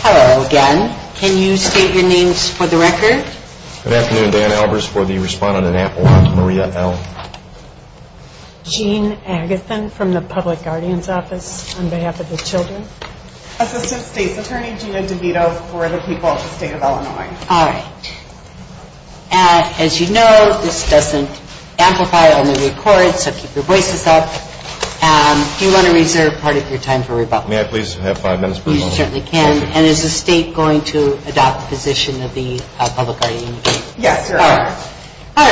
Hello again. Can you state your names for the record? Good afternoon. Dan Albers for the respondent in Appalachia. Maria L. Jean Agathon from the Public Guardian's Office on behalf of the children. Assistant State's Attorney Gina DeVito for the people of the state of Illinois. All right. As you know, this doesn't amplify, only record, so keep your voices up. Do you want to reserve part of your time for rebuttal? May I please have five minutes? You certainly can. And is the state going to adopt the position of the public guardian? Yes, sir. All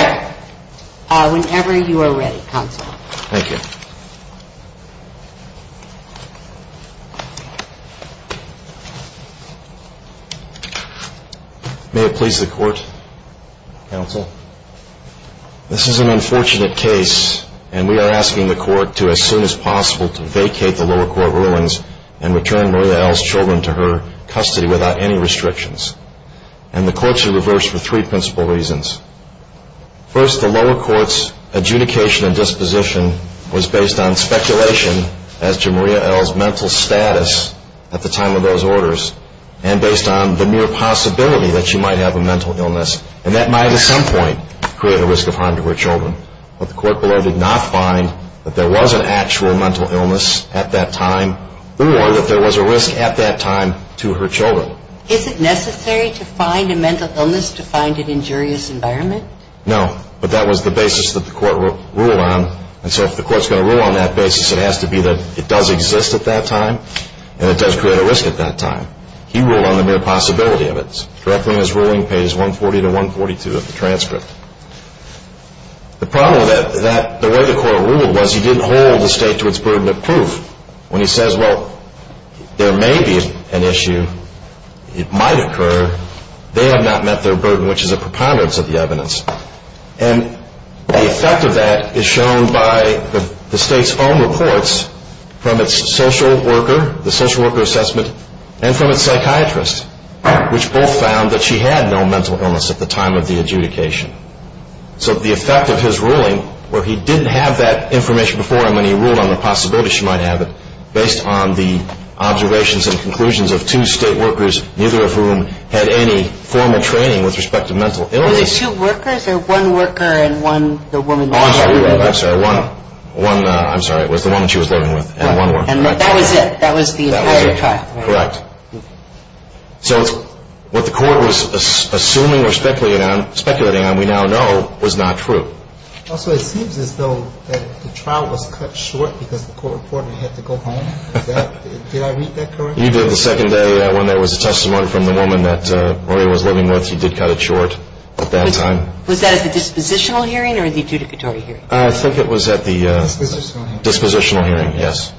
right. Whenever you are ready, counsel. Thank you. May it please the court, counsel? This is an unfortunate case, and we are asking the court to, as soon as possible, vacate the lower court rulings and return Maria L.'s children to her custody without any restrictions. And the courts are reversed for three principal reasons. First, the lower court's adjudication and disposition was based on speculation as to Maria L.'s mental status at the time of those orders, and based on the mere possibility that she might have a mental illness. And that might at some point create a risk of harm to her children. But the court below did not find that there was an actual mental illness at that time or that there was a risk at that time to her children. Is it necessary to find a mental illness to find an injurious environment? No. But that was the basis that the court ruled on. And so if the court's going to rule on that basis, it has to be that it does exist at that time and it does create a risk at that time. He ruled on the mere possibility of it directly in his ruling, pages 140 to 142 of the transcript. The problem with that is that the way the court ruled was he didn't hold the state to its burden of proof. When he says, well, there may be an issue, it might occur, they have not met their burden, which is a preponderance of the evidence. And the effect of that is shown by the state's own reports from its social worker, the social worker assessment, and from its psychiatrist, which both found that she had no mental illness at the time of the adjudication. So the effect of his ruling where he didn't have that information before and when he ruled on the possibility she might have it, based on the observations and conclusions of two state workers, neither of whom had any formal training with respect to mental illness. Was it two workers or one worker and one, the woman she was living with? I'm sorry, one, I'm sorry, it was the woman she was living with and one worker. And that was it. That was the entire trial. Correct. So what the court was assuming or speculating on, we now know, was not true. Also, it seems as though the trial was cut short because the court reported he had to go home. Did I read that correctly? You did the second day when there was a testimony from the woman that Roy was living with. You did cut it short at that time. Was that at the dispositional hearing or the adjudicatory hearing? I think it was at the dispositional hearing, yes.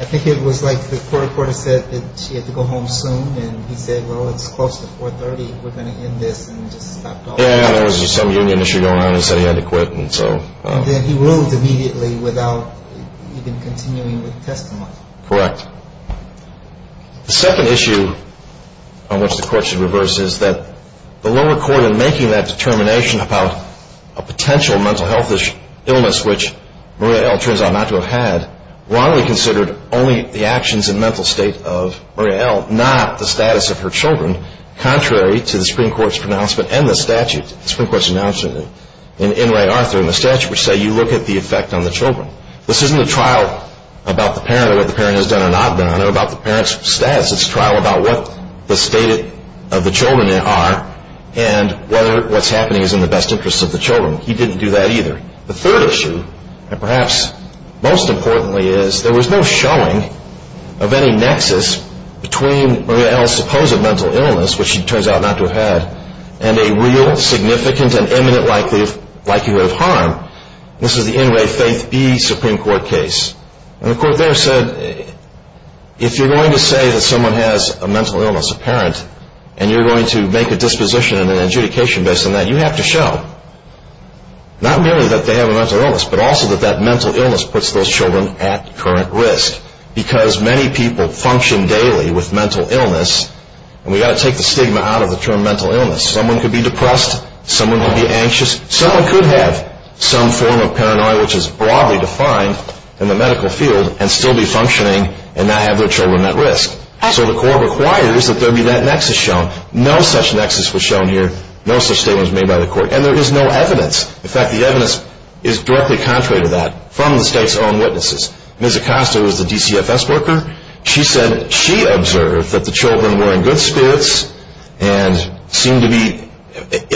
I think it was like the court reported that she had to go home soon, and he said, well, it's close to 430, we're going to end this, and just stopped all this. Yeah, there was some union issue going on and he said he had to quit. And then he ruled immediately without even continuing with testimony. Correct. The second issue on which the court should reverse is that the lower court, in making that determination about a potential mental health illness, which Maria L. turns out not to have had, wrongly considered only the actions and mental state of Maria L., not the status of her children, contrary to the Supreme Court's pronouncement and the statute, the Supreme Court's announcement in Ray Arthur, in the statute which said you look at the effect on the children. This isn't a trial about the parent or what the parent has done or not done, it's about the parent's status. It's a trial about what the state of the children are and whether what's happening is in the best interest of the children. He didn't do that either. The third issue, and perhaps most importantly, is there was no showing of any nexus between Maria L.'s supposed mental illness, which she turns out not to have had, and a real significant and imminent likelihood of harm. This is the in Ray Faith B. Supreme Court case. And the court there said if you're going to say that someone has a mental illness, a parent, and you're going to make a disposition and an adjudication based on that, you have to show not merely that they have a mental illness, but also that that mental illness puts those children at current risk. Because many people function daily with mental illness, and we've got to take the stigma out of the term mental illness. Someone could be depressed, someone could be anxious, someone could have some form of paranoia which is broadly defined in the medical field and still be functioning and not have their children at risk. So the court requires that there be that nexus shown. No such nexus was shown here. No such statement was made by the court. And there is no evidence. In fact, the evidence is directly contrary to that from the state's own witnesses. Ms. Acosta was the DCFS worker. She said she observed that the children were in good spirits and seemed to be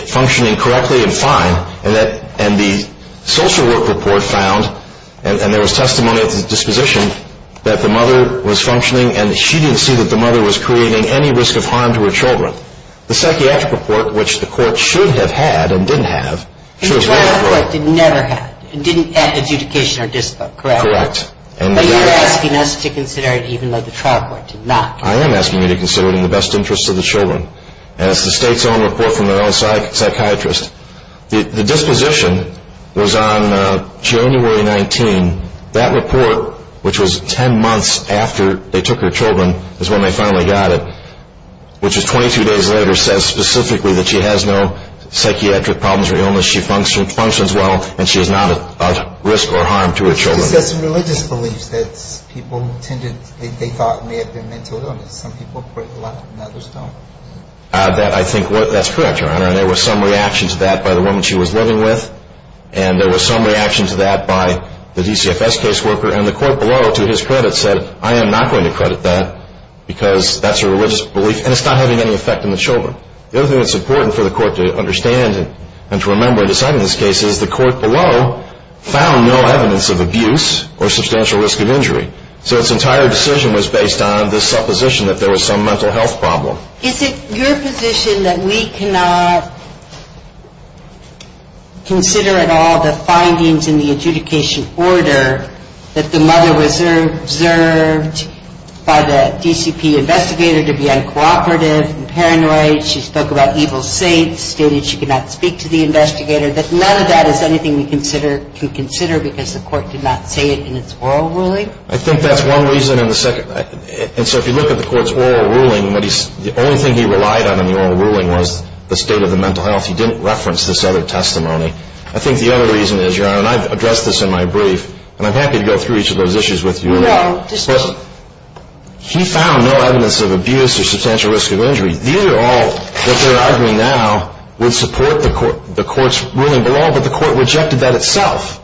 functioning correctly and fine, and the social work report found, and there was testimony at the disposition, that the mother was functioning and she didn't see that the mother was creating any risk of harm to her children. The psychiatric report, which the court should have had and didn't have, shows that report. The trial court never had and didn't add adjudication or disavow, correct? Correct. But you're asking us to consider it even though the trial court did not. I am asking you to consider it in the best interest of the children. And it's the state's own report from their own psychiatrist. The disposition was on January 19. That report, which was 10 months after they took her children, is when they finally got it, which is 22 days later says specifically that she has no psychiatric problems or illness, she functions well, and she is not at risk or harm to her children. Because that's a religious belief that people tended, they thought may have been mental illness. Some people break the law and others don't. I think that's correct, Your Honor. And there was some reaction to that by the woman she was living with, and there was some reaction to that by the DCFS caseworker, and the court below, to his credit, said, I am not going to credit that because that's a religious belief and it's not having any effect on the children. The other thing that's important for the court to understand and to remember in deciding this case is the court below found no evidence of abuse or substantial risk of injury. So its entire decision was based on this supposition that there was some mental health problem. Is it your position that we cannot consider at all the findings in the adjudication order that the mother was observed by the DCP investigator to be uncooperative and paranoid, she spoke about evil saints, stated she could not speak to the investigator, that none of that is anything we can consider because the court did not say it in its oral ruling? I think that's one reason, and the second, and so if you look at the court's oral ruling, the only thing he relied on in the oral ruling was the state of the mental health. He didn't reference this other testimony. I think the other reason is, Your Honor, and I've addressed this in my brief, and I'm happy to go through each of those issues with you, but he found no evidence of abuse or substantial risk of injury. These are all that they're arguing now would support the court's ruling below, but the court rejected that itself.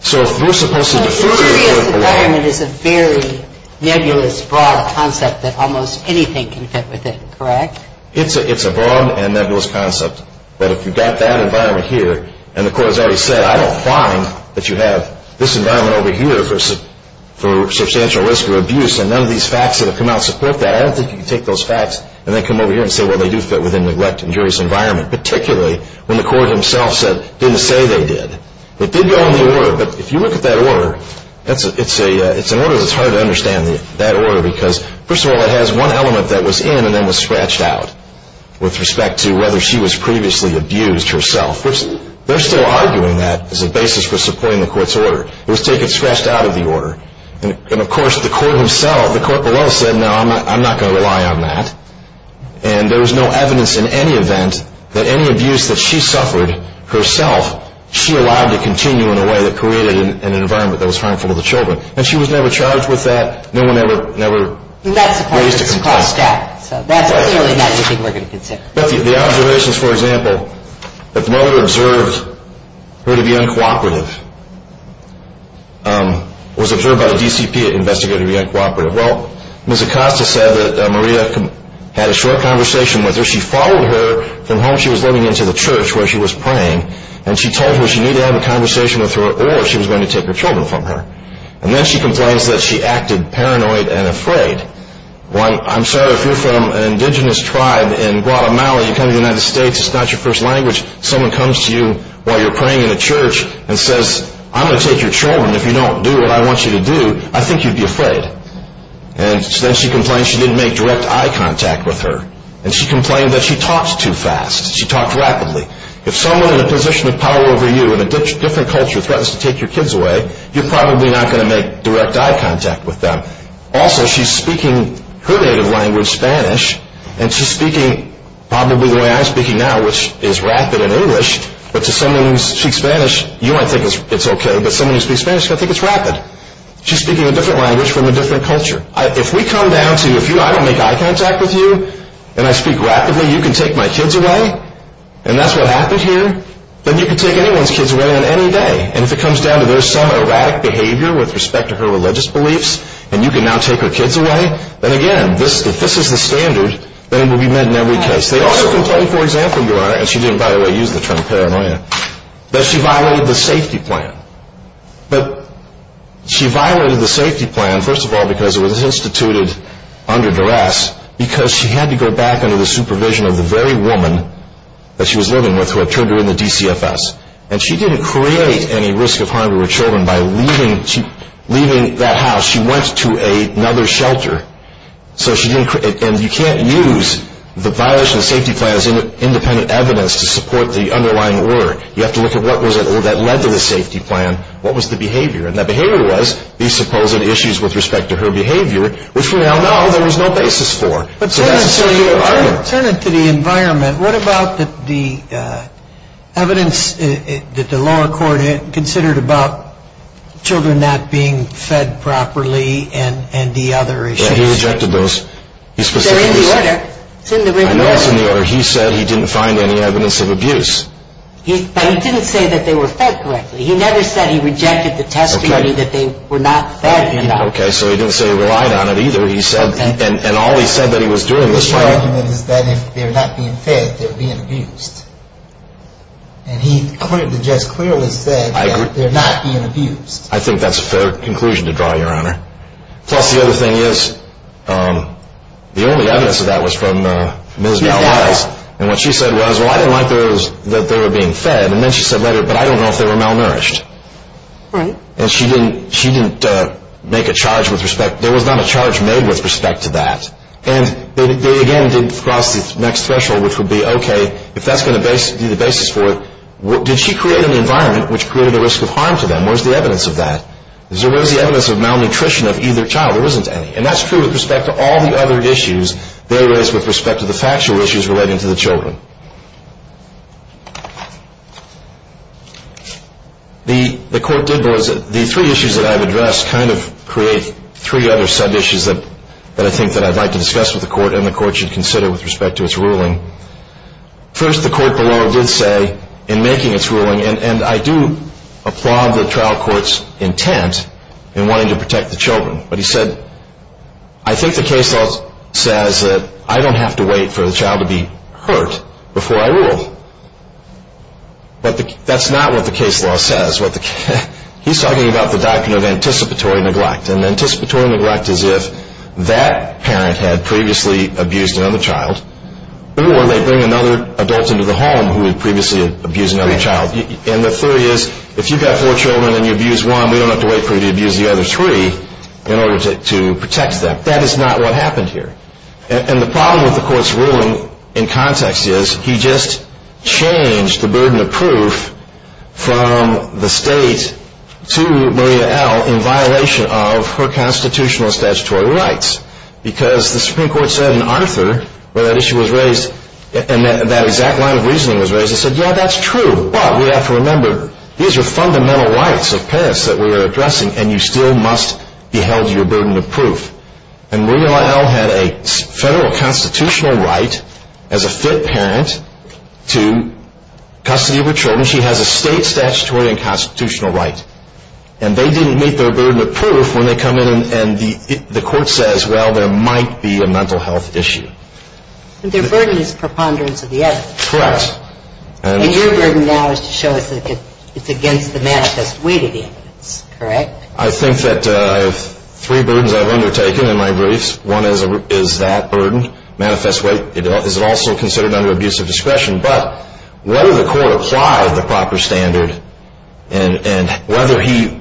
So injurious environment is a very nebulous, broad concept that almost anything can fit within, correct? It's a broad and nebulous concept, but if you've got that environment here, and the court has already said, I don't find that you have this environment over here for substantial risk or abuse, and none of these facts that have come out support that, I don't think you can take those facts and then come over here and say, well, they do fit within neglect and injurious environment, particularly when the court himself said, didn't say they did. It did go in the order, but if you look at that order, it's an order that's hard to understand, that order, because, first of all, it has one element that was in and then was scratched out with respect to whether she was previously abused herself, which they're still arguing that as a basis for supporting the court's order. It was taken scratched out of the order, and, of course, the court himself, the court below said, no, I'm not going to rely on that, and there was no evidence in any event that any abuse that she suffered herself, she allowed to continue in a way that created an environment that was harmful to the children, and she was never charged with that. No one ever raised a complaint. That's the point. That's the point. That's clearly not anything we're going to consider. The observations, for example, that the mother observed her to be uncooperative was observed by the DCP investigator to be uncooperative. Well, Ms. Acosta said that Marita had a short conversation with her. She followed her from the home she was living in to the church where she was praying, and she told her she needed to have a conversation with her or she was going to take her children from her. And then she complains that she acted paranoid and afraid. Well, I'm sorry, if you're from an indigenous tribe in Guatemala, you come to the United States, it's not your first language, someone comes to you while you're praying in a church and says, I'm going to take your children. If you don't do what I want you to do, I think you'd be afraid. And then she complains she didn't make direct eye contact with her, and she complained that she talked too fast. She talked rapidly. If someone in a position of power over you in a different culture threatens to take your kids away, you're probably not going to make direct eye contact with them. Also, she's speaking her native language, Spanish, and she's speaking probably the way I'm speaking now, which is rapid in English, but to someone who speaks Spanish, you might think it's okay, but someone who speaks Spanish is going to think it's rapid. She's speaking a different language from a different culture. If we come down to, if I don't make eye contact with you and I speak rapidly, you can take my kids away, and that's what happened here, then you can take anyone's kids away on any day. And if it comes down to there's some erratic behavior with respect to her religious beliefs, and you can now take her kids away, then again, if this is the standard, then it will be met in every case. They also complain, for example, Your Honor, and she didn't, by the way, use the term paranoia, that she violated the safety plan. But she violated the safety plan, first of all, because it was instituted under duress, because she had to go back under the supervision of the very woman that she was living with who had turned her into the DCFS. And she didn't create any risk of harm to her children by leaving that house. She went to another shelter. And you can't use the violation of the safety plan as independent evidence to support the underlying order. You have to look at what was it that led to the safety plan, what was the behavior. And that behavior was these supposed issues with respect to her behavior, which we now know there was no basis for. So that's a circuit of argument. But turn it to the environment. What about the evidence that the lower court considered about children not being fed properly and the other issues? He rejected those. They're in the order. It's in the written record. I know it's in the order. He said he didn't find any evidence of abuse. But he didn't say that they were fed correctly. He never said he rejected the testimony that they were not fed enough. Okay. So he didn't say he relied on it either. And all he said that he was doing was trying to- His argument is that if they're not being fed, they're being abused. And he just clearly said that they're not being abused. I think that's a fair conclusion to draw, Your Honor. Plus, the other thing is, the only evidence of that was from Ms. Malloy's. And what she said was, well, I didn't like that they were being fed. And then she said later, but I don't know if they were malnourished. Right. And she didn't make a charge with respect- There was not a charge made with respect to that. And they, again, didn't cross the next threshold, which would be, okay, if that's going to be the basis for it, did she create an environment which created a risk of harm to them? Where's the evidence of that? Where's the evidence of malnutrition of either child? There isn't any. And that's true with respect to all the other issues they raised with respect to the factual issues relating to the children. The court did, though, the three issues that I've addressed kind of create three other sub-issues that I think that I'd like to discuss with the court and the court should consider with respect to its ruling. First, the court below did say in making its ruling, and I do applaud the trial court's intent in wanting to protect the children, but he said, I think the case law says that I don't have to wait for the child to be hurt before I rule. But that's not what the case law says. He's talking about the doctrine of anticipatory neglect. And anticipatory neglect is if that parent had previously abused another child, or they bring another adult into the home who had previously abused another child. And the theory is, if you've got four children and you abuse one, we don't have to wait for you to abuse the other three. In order to protect them. That is not what happened here. And the problem with the court's ruling in context is, he just changed the burden of proof from the state to Maria L. in violation of her constitutional and statutory rights. Because the Supreme Court said in Arthur, where that issue was raised, and that exact line of reasoning was raised, it said, yeah, that's true, but we have to remember, these are fundamental rights of parents that we're addressing and you still must be held to your burden of proof. And Maria L. had a federal constitutional right as a fit parent to custody of her children. She has a state statutory and constitutional right. And they didn't meet their burden of proof when they come in and the court says, well, there might be a mental health issue. But their burden is preponderance of the evidence. Correct. And your burden now is to show us that it's against the manifest weight of the evidence. Correct? I think that I have three burdens I've undertaken in my briefs. One is that burden, manifest weight. Is it also considered under abusive discretion? But whether the court applied the proper standard and whether he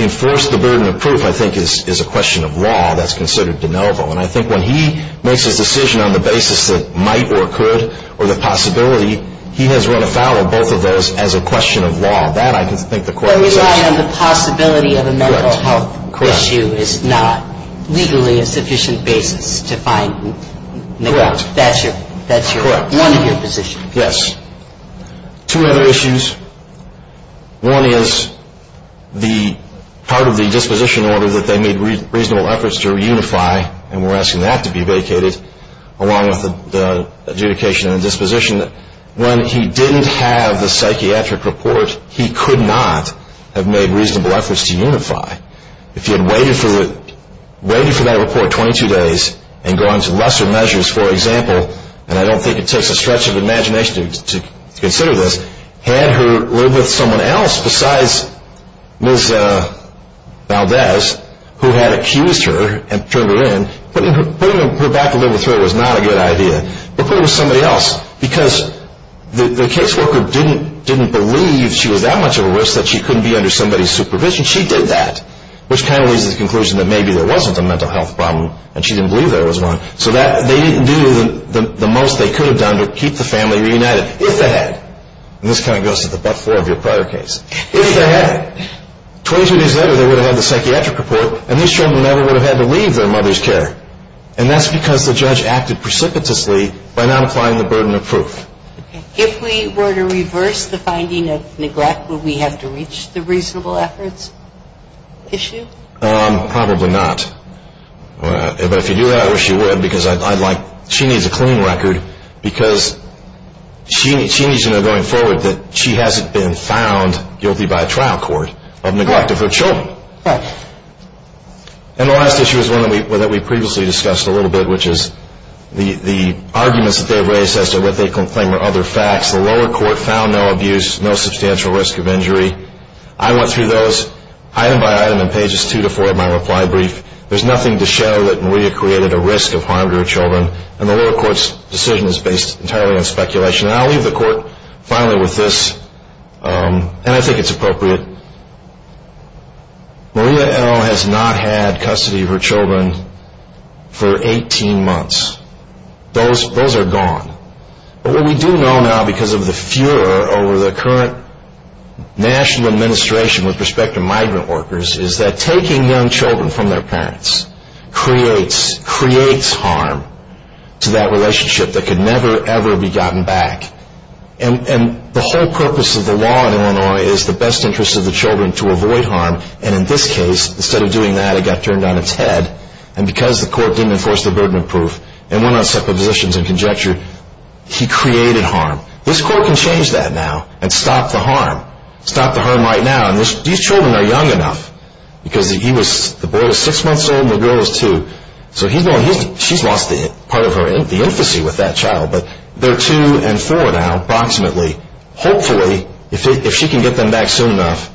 enforced the burden of proof, I think, is a question of law. That's considered de novo. And I think when he makes his decision on the basis that might or could or the possibility, he has run afoul of both of those as a question of law. That, I think, the court can say. But relying on the possibility of a mental health issue is not legally a sufficient basis to find neglect. Correct. That's one of your positions. Yes. Two other issues. One is the part of the disposition order that they made reasonable efforts to reunify, and we're asking that to be vacated, along with the adjudication and disposition. When he didn't have the psychiatric report, he could not have made reasonable efforts to unify. If he had waited for that report 22 days and gone to lesser measures, for example, and I don't think it takes a stretch of imagination to consider this, had her lived with someone else besides Ms. Valdez, who had accused her and turned her in, putting her back to live with her was not a good idea. But put her with somebody else because the caseworker didn't believe she was that much of a risk that she couldn't be under somebody's supervision. She did that, which kind of leads to the conclusion that maybe there wasn't a mental health problem and she didn't believe there was one. So they didn't do the most they could have done to keep the family reunited. If they had, and this kind of goes to the butt floor of your prior case, if they had, 22 days later they would have had the psychiatric report and these children never would have had to leave their mother's care. And that's because the judge acted precipitously by not applying the burden of proof. If we were to reverse the finding of neglect, would we have to reach the reasonable efforts issue? Probably not. But if you do that, I wish you would because she needs a clean record because she needs to know going forward that she hasn't been found guilty by a trial court of neglect of her children. And the last issue is one that we previously discussed a little bit, which is the arguments that they've raised as to what they claim are other facts. The lower court found no abuse, no substantial risk of injury. I went through those item by item in pages two to four of my reply brief. There's nothing to show that Maria created a risk of harm to her children. And the lower court's decision is based entirely on speculation. And I'll leave the court finally with this, and I think it's appropriate. Maria L. has not had custody of her children for 18 months. Those are gone. But what we do know now because of the furor over the current national administration with respect to migrant workers is that taking young children from their parents creates harm to that relationship that could never, ever be gotten back. And the whole purpose of the law in Illinois is the best interest of the children to avoid harm. And in this case, instead of doing that, it got turned on its head. And because the court didn't enforce the burden of proof and went on separate positions in conjecture, he created harm. This court can change that now and stop the harm. Stop the harm right now. And these children are young enough because the boy was six months old and the girl was two. So she's lost part of the infancy with that child. But they're two and four now, approximately. Hopefully, if she can get them back soon enough,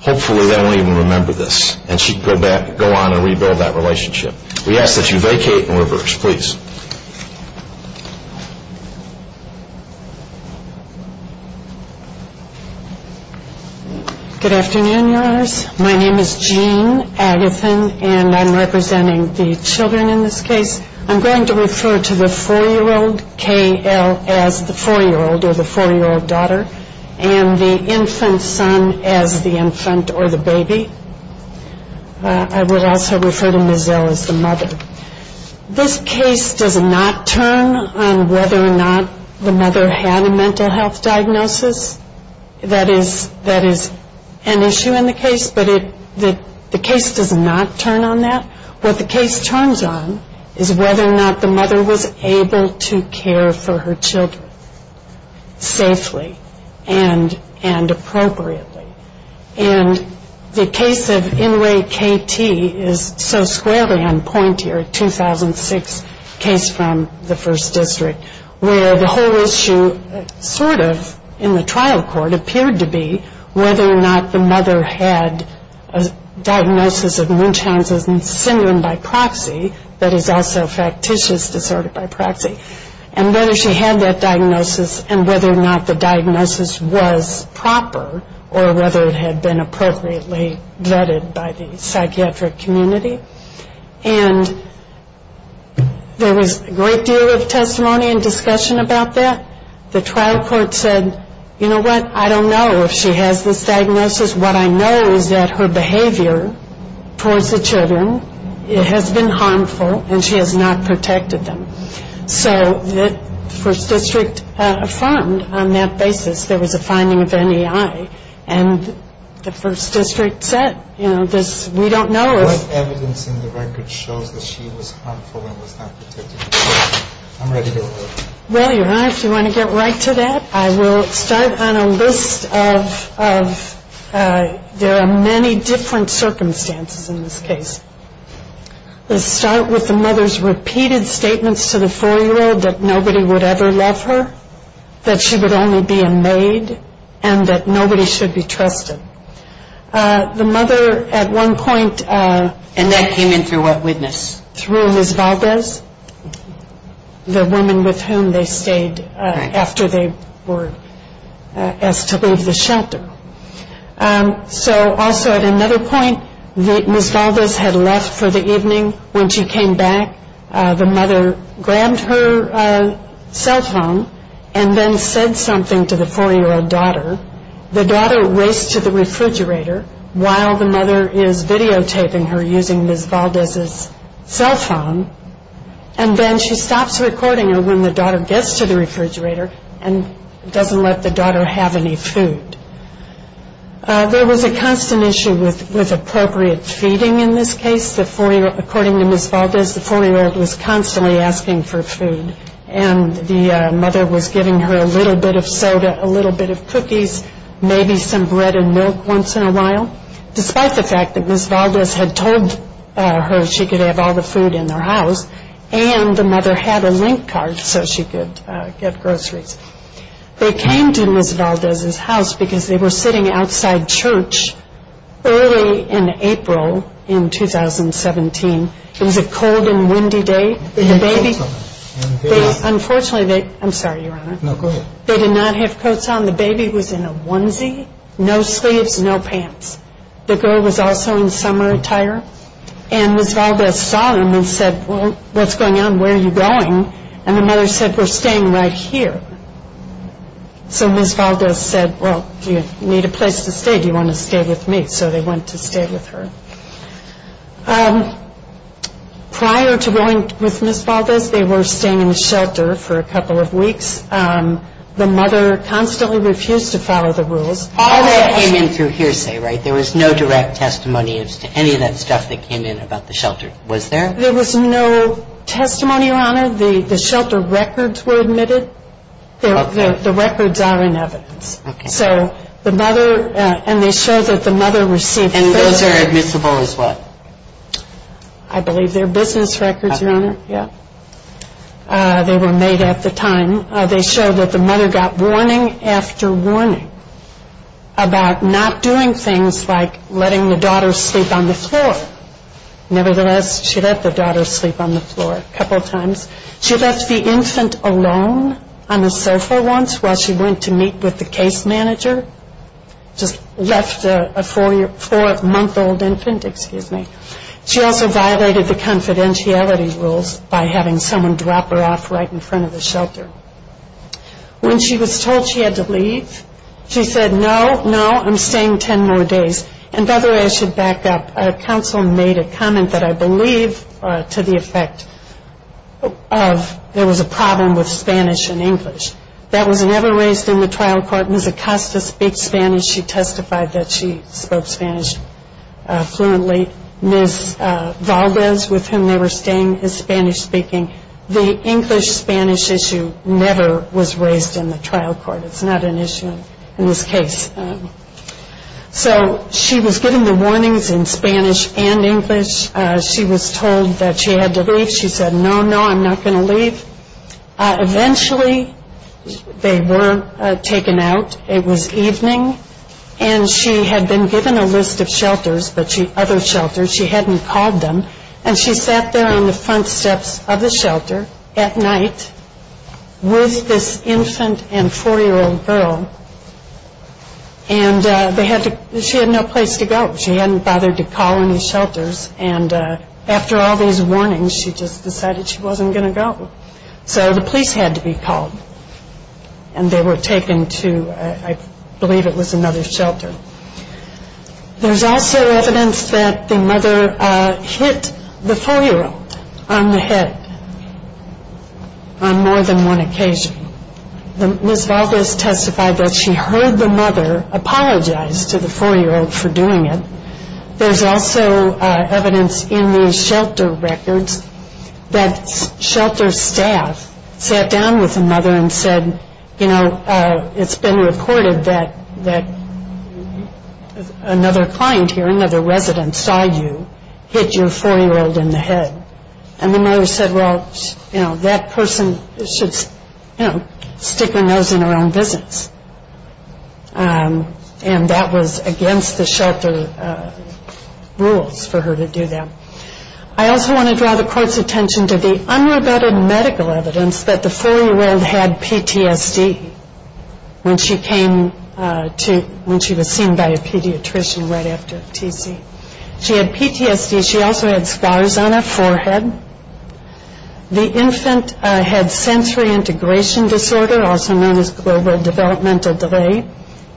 hopefully they won't even remember this and she can go on and rebuild that relationship. We ask that you vacate and reverse, please. Good afternoon, Your Honors. My name is Jean Agathon, and I'm representing the children in this case. I'm going to refer to the 4-year-old K.L. as the 4-year-old or the 4-year-old daughter and the infant son as the infant or the baby. I would also refer to Ms. L. as the mother. This case does not turn on whether or not the mother had a mental health diagnosis. That is an issue in the case, but the case does not turn on that. What the case turns on is whether or not the mother was able to care for her children safely and appropriately. And the case of Inouye K.T. is so squarely on point here, a 2006 case from the First District where the whole issue sort of in the trial court appeared to be whether or not the mother had a diagnosis of Munchausen syndrome by proxy, that is also factitious disorder by proxy, and whether she had that diagnosis and whether or not the diagnosis was proper or whether it had been appropriately vetted by the psychiatric community. And there was a great deal of testimony and discussion about that. The trial court said, you know what, I don't know if she has this diagnosis. What I know is that her behavior towards the children has been harmful and she has not protected them. So the First District affirmed on that basis there was a finding of NEI. And the First District said, you know, we don't know. What evidence in the record shows that she was harmful and was not protected? Well, Your Honor, if you want to get right to that, I will start on a list of, there are many different circumstances in this case. Let's start with the mother's repeated statements to the 4-year-old that nobody would ever love her, that she would only be a maid, and that nobody should be trusted. The mother at one point. And that came in through what witness? Through Ms. Valdez, the woman with whom they stayed after they were asked to leave the shelter. So also at another point, Ms. Valdez had left for the evening. When she came back, the mother grabbed her cell phone and then said something to the 4-year-old daughter. The daughter raced to the refrigerator while the mother is videotaping her using Ms. Valdez's cell phone. And then she stops recording her when the daughter gets to the refrigerator and doesn't let the daughter have any food. There was a constant issue with appropriate feeding in this case. According to Ms. Valdez, the 4-year-old was constantly asking for food. And the mother was giving her a little bit of soda, a little bit of cookies, maybe some bread and milk once in a while. Despite the fact that Ms. Valdez had told her she could have all the food in her house, and the mother had a link card so she could get groceries. They came to Ms. Valdez's house because they were sitting outside church early in April in 2017. It was a cold and windy day. Unfortunately, they did not have coats on. The baby was in a onesie, no sleeves, no pants. The girl was also in summer attire. And Ms. Valdez saw them and said, well, what's going on, where are you going? And the mother said, we're staying right here. So Ms. Valdez said, well, do you need a place to stay? Do you want to stay with me? So they went to stay with her. Prior to going with Ms. Valdez, they were staying in a shelter for a couple of weeks. The mother constantly refused to follow the rules. All that came in through hearsay, right? There was no direct testimony as to any of that stuff that came in about the shelter. Was there? There was no testimony, Your Honor. The shelter records were admitted. The records are in evidence. Okay. So the mother, and they showed that the mother received physical. And those are admissible as what? I believe they're business records, Your Honor. Okay. Yeah. They were made at the time. They showed that the mother got warning after warning about not doing things like letting the daughter sleep on the floor. Nevertheless, she let the daughter sleep on the floor a couple of times. She left the infant alone on the sofa once while she went to meet with the case manager. Just left a four-month-old infant, excuse me. She also violated the confidentiality rules by having someone drop her off right in front of the shelter. When she was told she had to leave, she said, no, no, I'm staying ten more days. And by the way, I should back up. Counsel made a comment that I believe to the effect of there was a problem with Spanish and English. That was never raised in the trial court. Ms. Acosta speaks Spanish. She testified that she spoke Spanish fluently. Ms. Valdez, with whom they were staying, is Spanish-speaking. The English-Spanish issue never was raised in the trial court. It's not an issue in this case. So she was given the warnings in Spanish and English. She was told that she had to leave. She said, no, no, I'm not going to leave. Eventually, they were taken out. It was evening, and she had been given a list of shelters, other shelters. She hadn't called them. And she sat there on the front steps of the shelter at night with this infant and 40-year-old girl. And she had no place to go. She hadn't bothered to call any shelters. And after all these warnings, she just decided she wasn't going to go. So the police had to be called. And they were taken to, I believe it was another shelter. There's also evidence that the mother hit the 4-year-old on the head on more than one occasion. Ms. Valdez testified that she heard the mother apologize to the 4-year-old for doing it. There's also evidence in these shelter records that shelter staff sat down with the mother and said, it's been reported that another client here, another resident saw you hit your 4-year-old in the head. And the mother said, well, that person should stick her nose in her own business. And that was against the shelter rules for her to do that. I also want to draw the court's attention to the unrebutted medical evidence that the 4-year-old had PTSD when she was seen by a pediatrician right after TC. She had PTSD. She also had scars on her forehead. The infant had sensory integration disorder, also known as global developmental delay.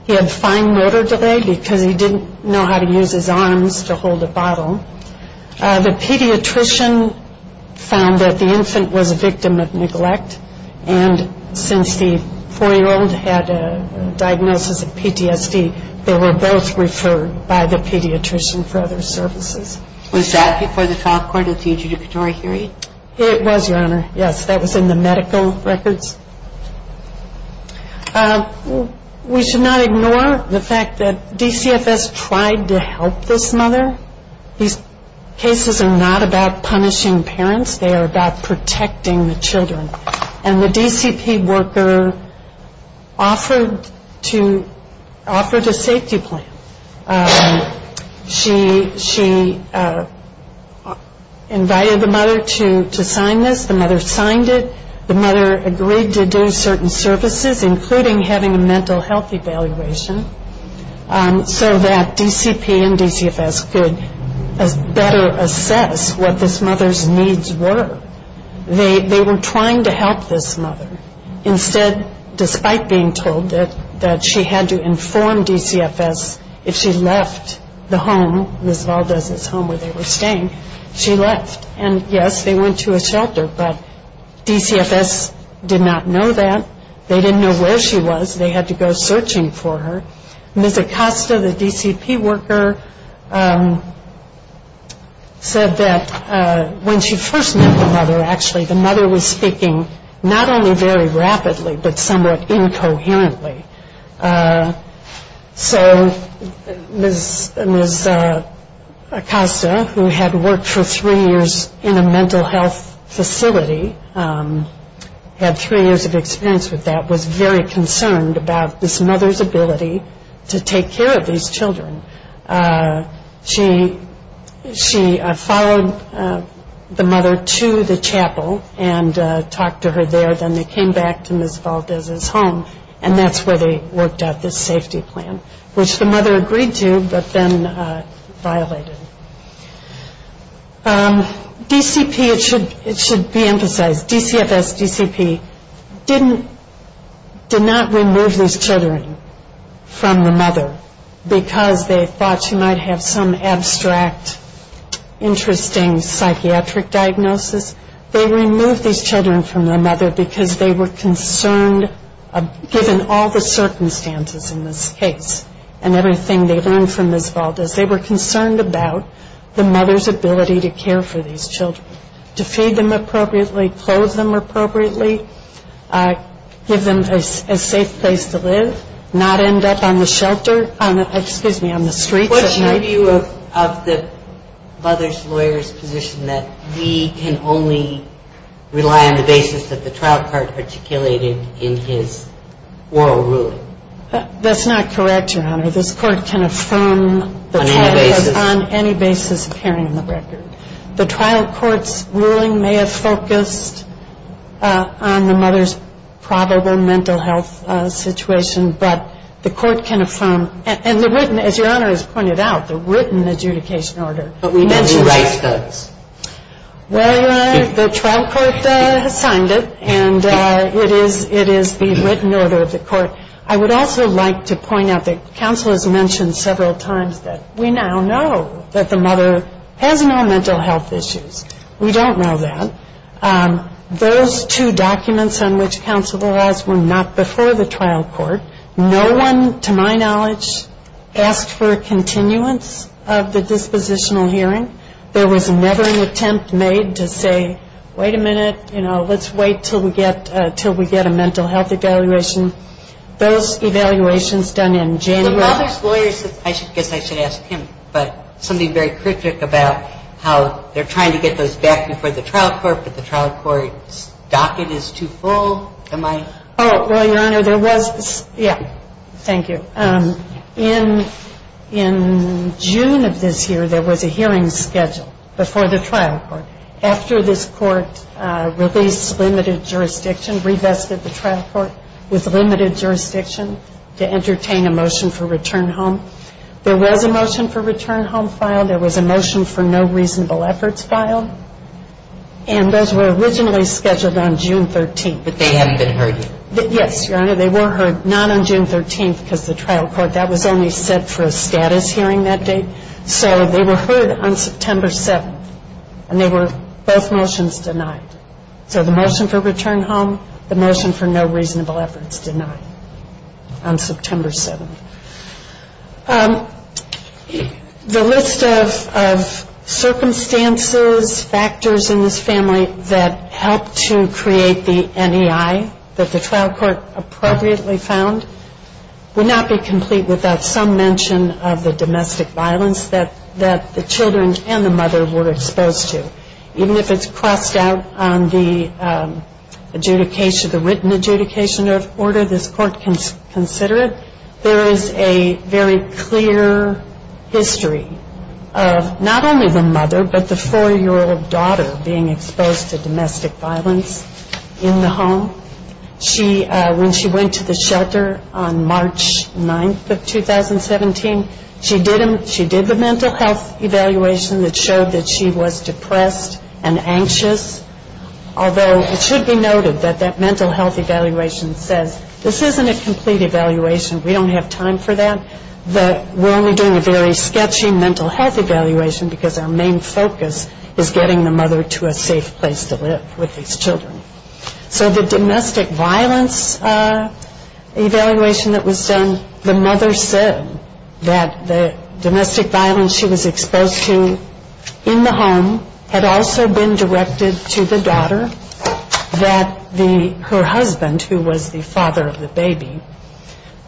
He had fine motor delay because he didn't know how to use his arms to hold a bottle. The pediatrician found that the infant was a victim of neglect, and since the 4-year-old had a diagnosis of PTSD, they were both referred by the pediatrician for other services. Was that before the trial court and the adjudicatory hearing? It was, Your Honor, yes. That was in the medical records. We should not ignore the fact that DCFS tried to help this mother. These cases are not about punishing parents. They are about protecting the children. And the DCP worker offered a safety plan. She invited the mother to sign this. The mother signed it. The mother agreed to do certain services, including having a mental health evaluation, so that DCP and DCFS could better assess what this mother's needs were. They were trying to help this mother. Instead, despite being told that she had to inform DCFS if she left the home, Ms. Valdez's home where they were staying, she left. And, yes, they went to a shelter, but DCFS did not know that. They didn't know where she was. They had to go searching for her. Ms. Acosta, the DCP worker, said that when she first met the mother, actually, the mother was speaking not only very rapidly, but somewhat incoherently. So Ms. Acosta, who had worked for three years in a mental health facility, had three years of experience with that, was very concerned about this mother's ability to take care of these children. She followed the mother to the chapel and talked to her there. Then they came back to Ms. Valdez's home. And that's where they worked out this safety plan, which the mother agreed to, but then violated. DCP, it should be emphasized, DCFS, DCP, did not remove these children from the mother because they thought she might have some abstract, interesting psychiatric diagnosis. They removed these children from their mother because they were concerned, given all the circumstances in this case and everything they learned from Ms. Valdez, they were concerned about the mother's ability to care for these children, to feed them appropriately, clothe them appropriately, give them a safe place to live, not end up on the shelter, excuse me, on the streets at night. It's my view of the mother's lawyer's position that we can only rely on the basis that the trial court articulated in his oral ruling. That's not correct, Your Honor. This court can affirm the trial court on any basis appearing in the record. The trial court's ruling may have focused on the mother's probable mental health situation, but the court can affirm, and the written, as Your Honor has pointed out, the written adjudication order. But we mentioned rice studs. Well, Your Honor, the trial court has signed it, and it is the written order of the court. I would also like to point out that counsel has mentioned several times that we now know that the mother has no mental health issues. We don't know that. Those two documents on which counsel relies were not before the trial court. No one, to my knowledge, asked for a continuance of the dispositional hearing. There was never an attempt made to say, wait a minute, you know, let's wait until we get a mental health evaluation. Those evaluations done in January. The mother's lawyer, I guess I should ask him, but something very cryptic about how they're trying to get those back before the trial court, but the trial court's docket is too full. Am I? Well, Your Honor, there was, yeah, thank you. In June of this year, there was a hearing scheduled before the trial court. After this court released limited jurisdiction, revested the trial court with limited jurisdiction to entertain a motion for return home. There was a motion for return home filed. There was a motion for no reasonable efforts filed. And those were originally scheduled on June 13th. But they haven't been heard yet. Yes, Your Honor, they were heard not on June 13th because the trial court, that was only set for a status hearing that day. So they were heard on September 7th. And they were both motions denied. So the motion for return home, the motion for no reasonable efforts denied on September 7th. The list of circumstances, factors in this family that helped to create the NEI that the trial court appropriately found would not be complete without some mention of the domestic violence that the children and the mother were exposed to. Even if it's crossed out on the written adjudication order, this court can consider it. There is a very clear history of not only the mother, but the 4-year-old daughter being exposed to domestic violence in the home. When she went to the shelter on March 9th of 2017, she did the mental health evaluation that showed that she was depressed and anxious. Although it should be noted that that mental health evaluation says, this isn't a complete evaluation, we don't have time for that. We're only doing a very sketchy mental health evaluation because our main focus is getting the mother to a safe place to live with these children. So the domestic violence evaluation that was done, the mother said that the domestic violence she was exposed to in the home had also been directed to the daughter that her husband, who was the father of the baby,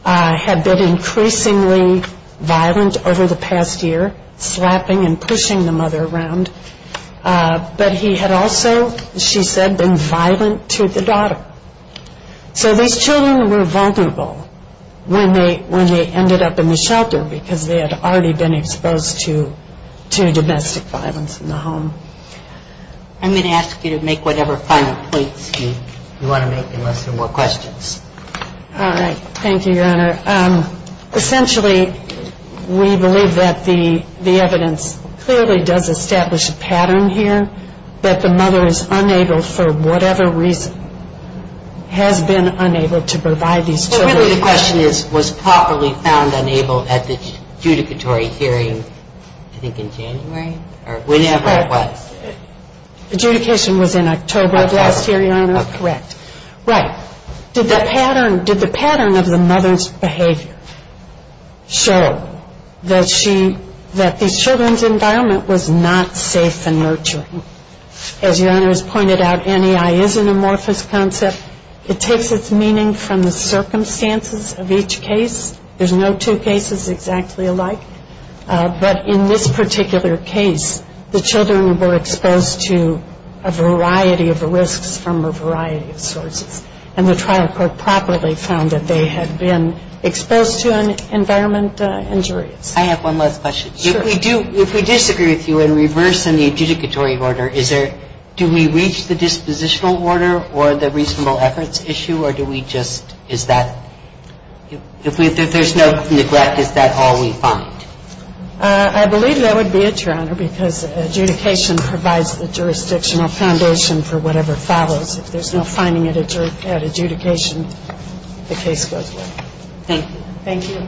had been increasingly violent over the past year, slapping and pushing the mother around. But he had also, she said, been violent to the daughter. So these children were vulnerable when they ended up in the shelter because they had already been exposed to domestic violence in the home. I'm going to ask you to make whatever final points you want to make unless there are more questions. All right. Thank you, Your Honor. Essentially, we believe that the evidence clearly does establish a pattern here that the mother is unable, for whatever reason, has been unable to provide these children. So really the question is, was properly found unable at the adjudicatory hearing, I think in January, or whenever it was? Adjudication was in October of last year, Your Honor. Correct. Right. Did the pattern of the mother's behavior show that she, that these children's environment was not safe and nurturing? As Your Honor has pointed out, NEI is an amorphous concept. It takes its meaning from the circumstances of each case. There's no two cases exactly alike. But in this particular case, the children were exposed to a variety of risks from a variety of sources. And the trial court properly found that they had been exposed to environment injuries. I have one last question. Sure. If we disagree with you and reverse in the adjudicatory order, do we reach the dispositional order or the reasonable efforts issue? Or do we just, is that, if there's no neglect, is that all we find? I believe that would be it, Your Honor, because adjudication provides the jurisdictional foundation for whatever follows. If there's no finding at adjudication, the case goes away. Thank you. Thank you.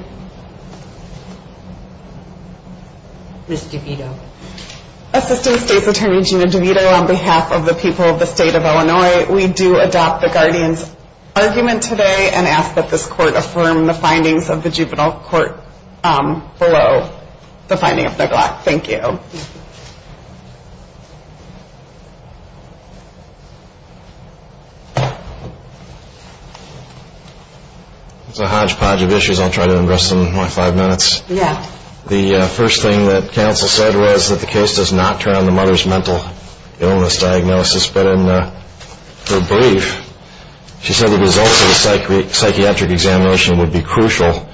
Ms. DeVito. Assistant State's Attorney Gina DeVito, on behalf of the people of the state of Illinois, we do adopt the guardian's argument today and ask that this court affirm the findings of the juvenile court below the finding of neglect. Thank you. It's a hodgepodge of issues. I'll try to address them in my five minutes. Yeah. The first thing that counsel said was that the case does not turn on the mother's mental illness diagnosis. But in her brief, she said the results of the psychiatric examination would be crucial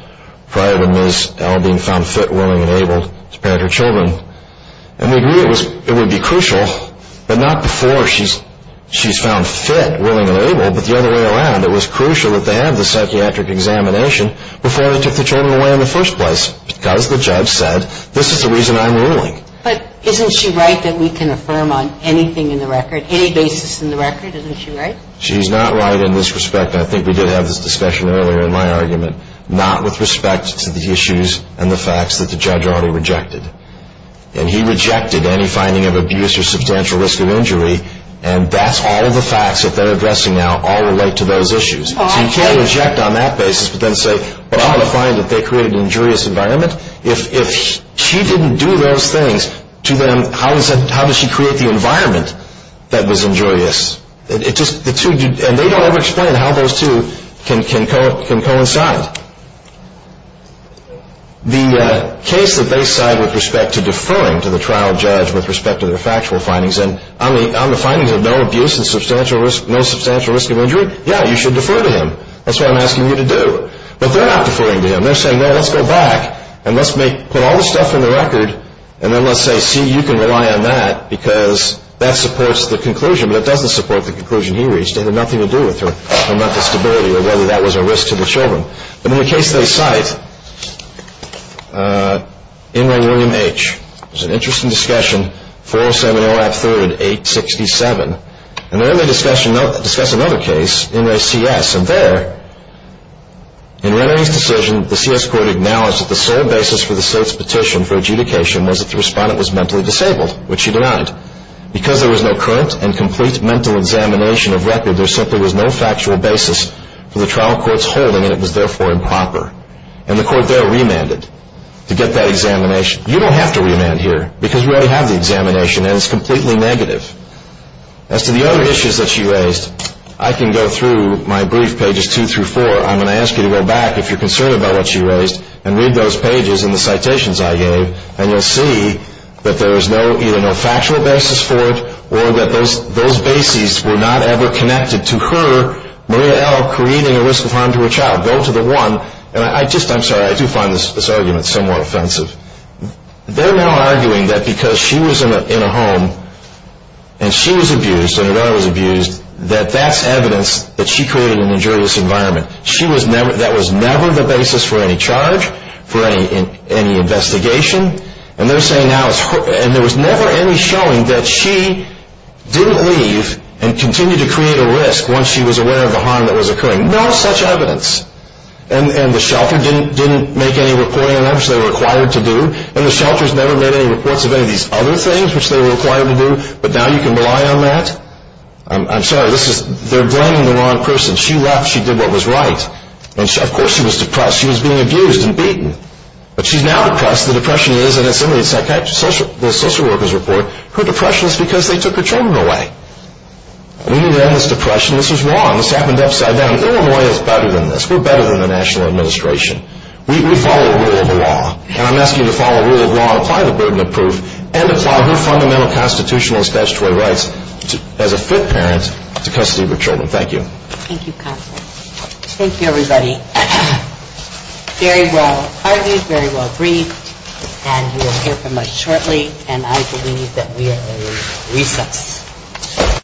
prior to Ms. L being found fit, willing, and able to parent her children. And we agree it would be crucial, but not before she's found fit, willing, and able, but the other way around. It was crucial that they have the psychiatric examination before they took the children away in the first place because the judge said, this is the reason I'm ruling. But isn't she right that we can affirm on anything in the record, any basis in the record? Isn't she right? She's not right in this respect, and I think we did have this discussion earlier in my argument, not with respect to the issues and the facts that the judge already rejected. And he rejected any finding of abuse or substantial risk of injury, and that's all of the facts that they're addressing now all relate to those issues. So you can't reject on that basis but then say, well, I'm going to find that they created an injurious environment. If she didn't do those things to them, how does she create the environment that was injurious? And they don't ever explain how those two can coincide. The case that they cite with respect to deferring to the trial judge with respect to their factual findings, and on the findings of no abuse and no substantial risk of injury, yeah, you should defer to him. That's what I'm asking you to do. But they're not deferring to him. They're saying, well, let's go back and let's put all the stuff in the record, and then let's say, see, you can rely on that because that supports the conclusion. But it doesn't support the conclusion he reached. It had nothing to do with her mental stability or whether that was a risk to the children. But in the case they cite, Inouye William H. There's an interesting discussion, 4070 Ab 3rd, 867. And there they discuss another case, Inouye C.S. And there, in Rennery's decision, the C.S. Court acknowledged that the sole basis for the state's petition for adjudication was that the respondent was mentally disabled, which she denied. Because there was no current and complete mental examination of record, there simply was no factual basis for the trial court's holding, and it was therefore improper. And the court there remanded to get that examination. You don't have to remand here because we already have the examination, and it's completely negative. As to the other issues that she raised, I can go through my brief, pages 2 through 4. I'm going to ask you to go back, if you're concerned about what she raised, and read those pages and the citations I gave. And you'll see that there is either no factual basis for it, or that those bases were not ever connected to her, Maria L., creating a risk of harm to her child. Go to the one. And I just, I'm sorry, I do find this argument somewhat offensive. They're now arguing that because she was in a home, and she was abused, and her brother was abused, that that's evidence that she created an injurious environment. That was never the basis for any charge, for any investigation. And they're saying now, and there was never any showing that she didn't leave and continued to create a risk once she was aware of the harm that was occurring. No such evidence. And the shelter didn't make any reporting on that, which they were required to do. And the shelters never made any reports of any of these other things, which they were required to do. But now you can rely on that? I'm sorry, this is, they're blaming the wrong person. She left. She did what was right. And of course she was depressed. She was being abused and beaten. But she's now depressed. The depression is, and it's in the social worker's report, her depression is because they took her children away. We need to end this depression. This was wrong. This happened upside down. Illinois is better than this. We're better than the national administration. We follow the rule of the law. And I'm asking you to follow the rule of the law and apply the burden of proof and apply her fundamental constitutional and statutory rights as a fit parent to custody of her children. Thank you. Thank you, counsel. Thank you, everybody. Very well heartened, very well briefed, and you will hear from us shortly. And I believe that we are at a recess.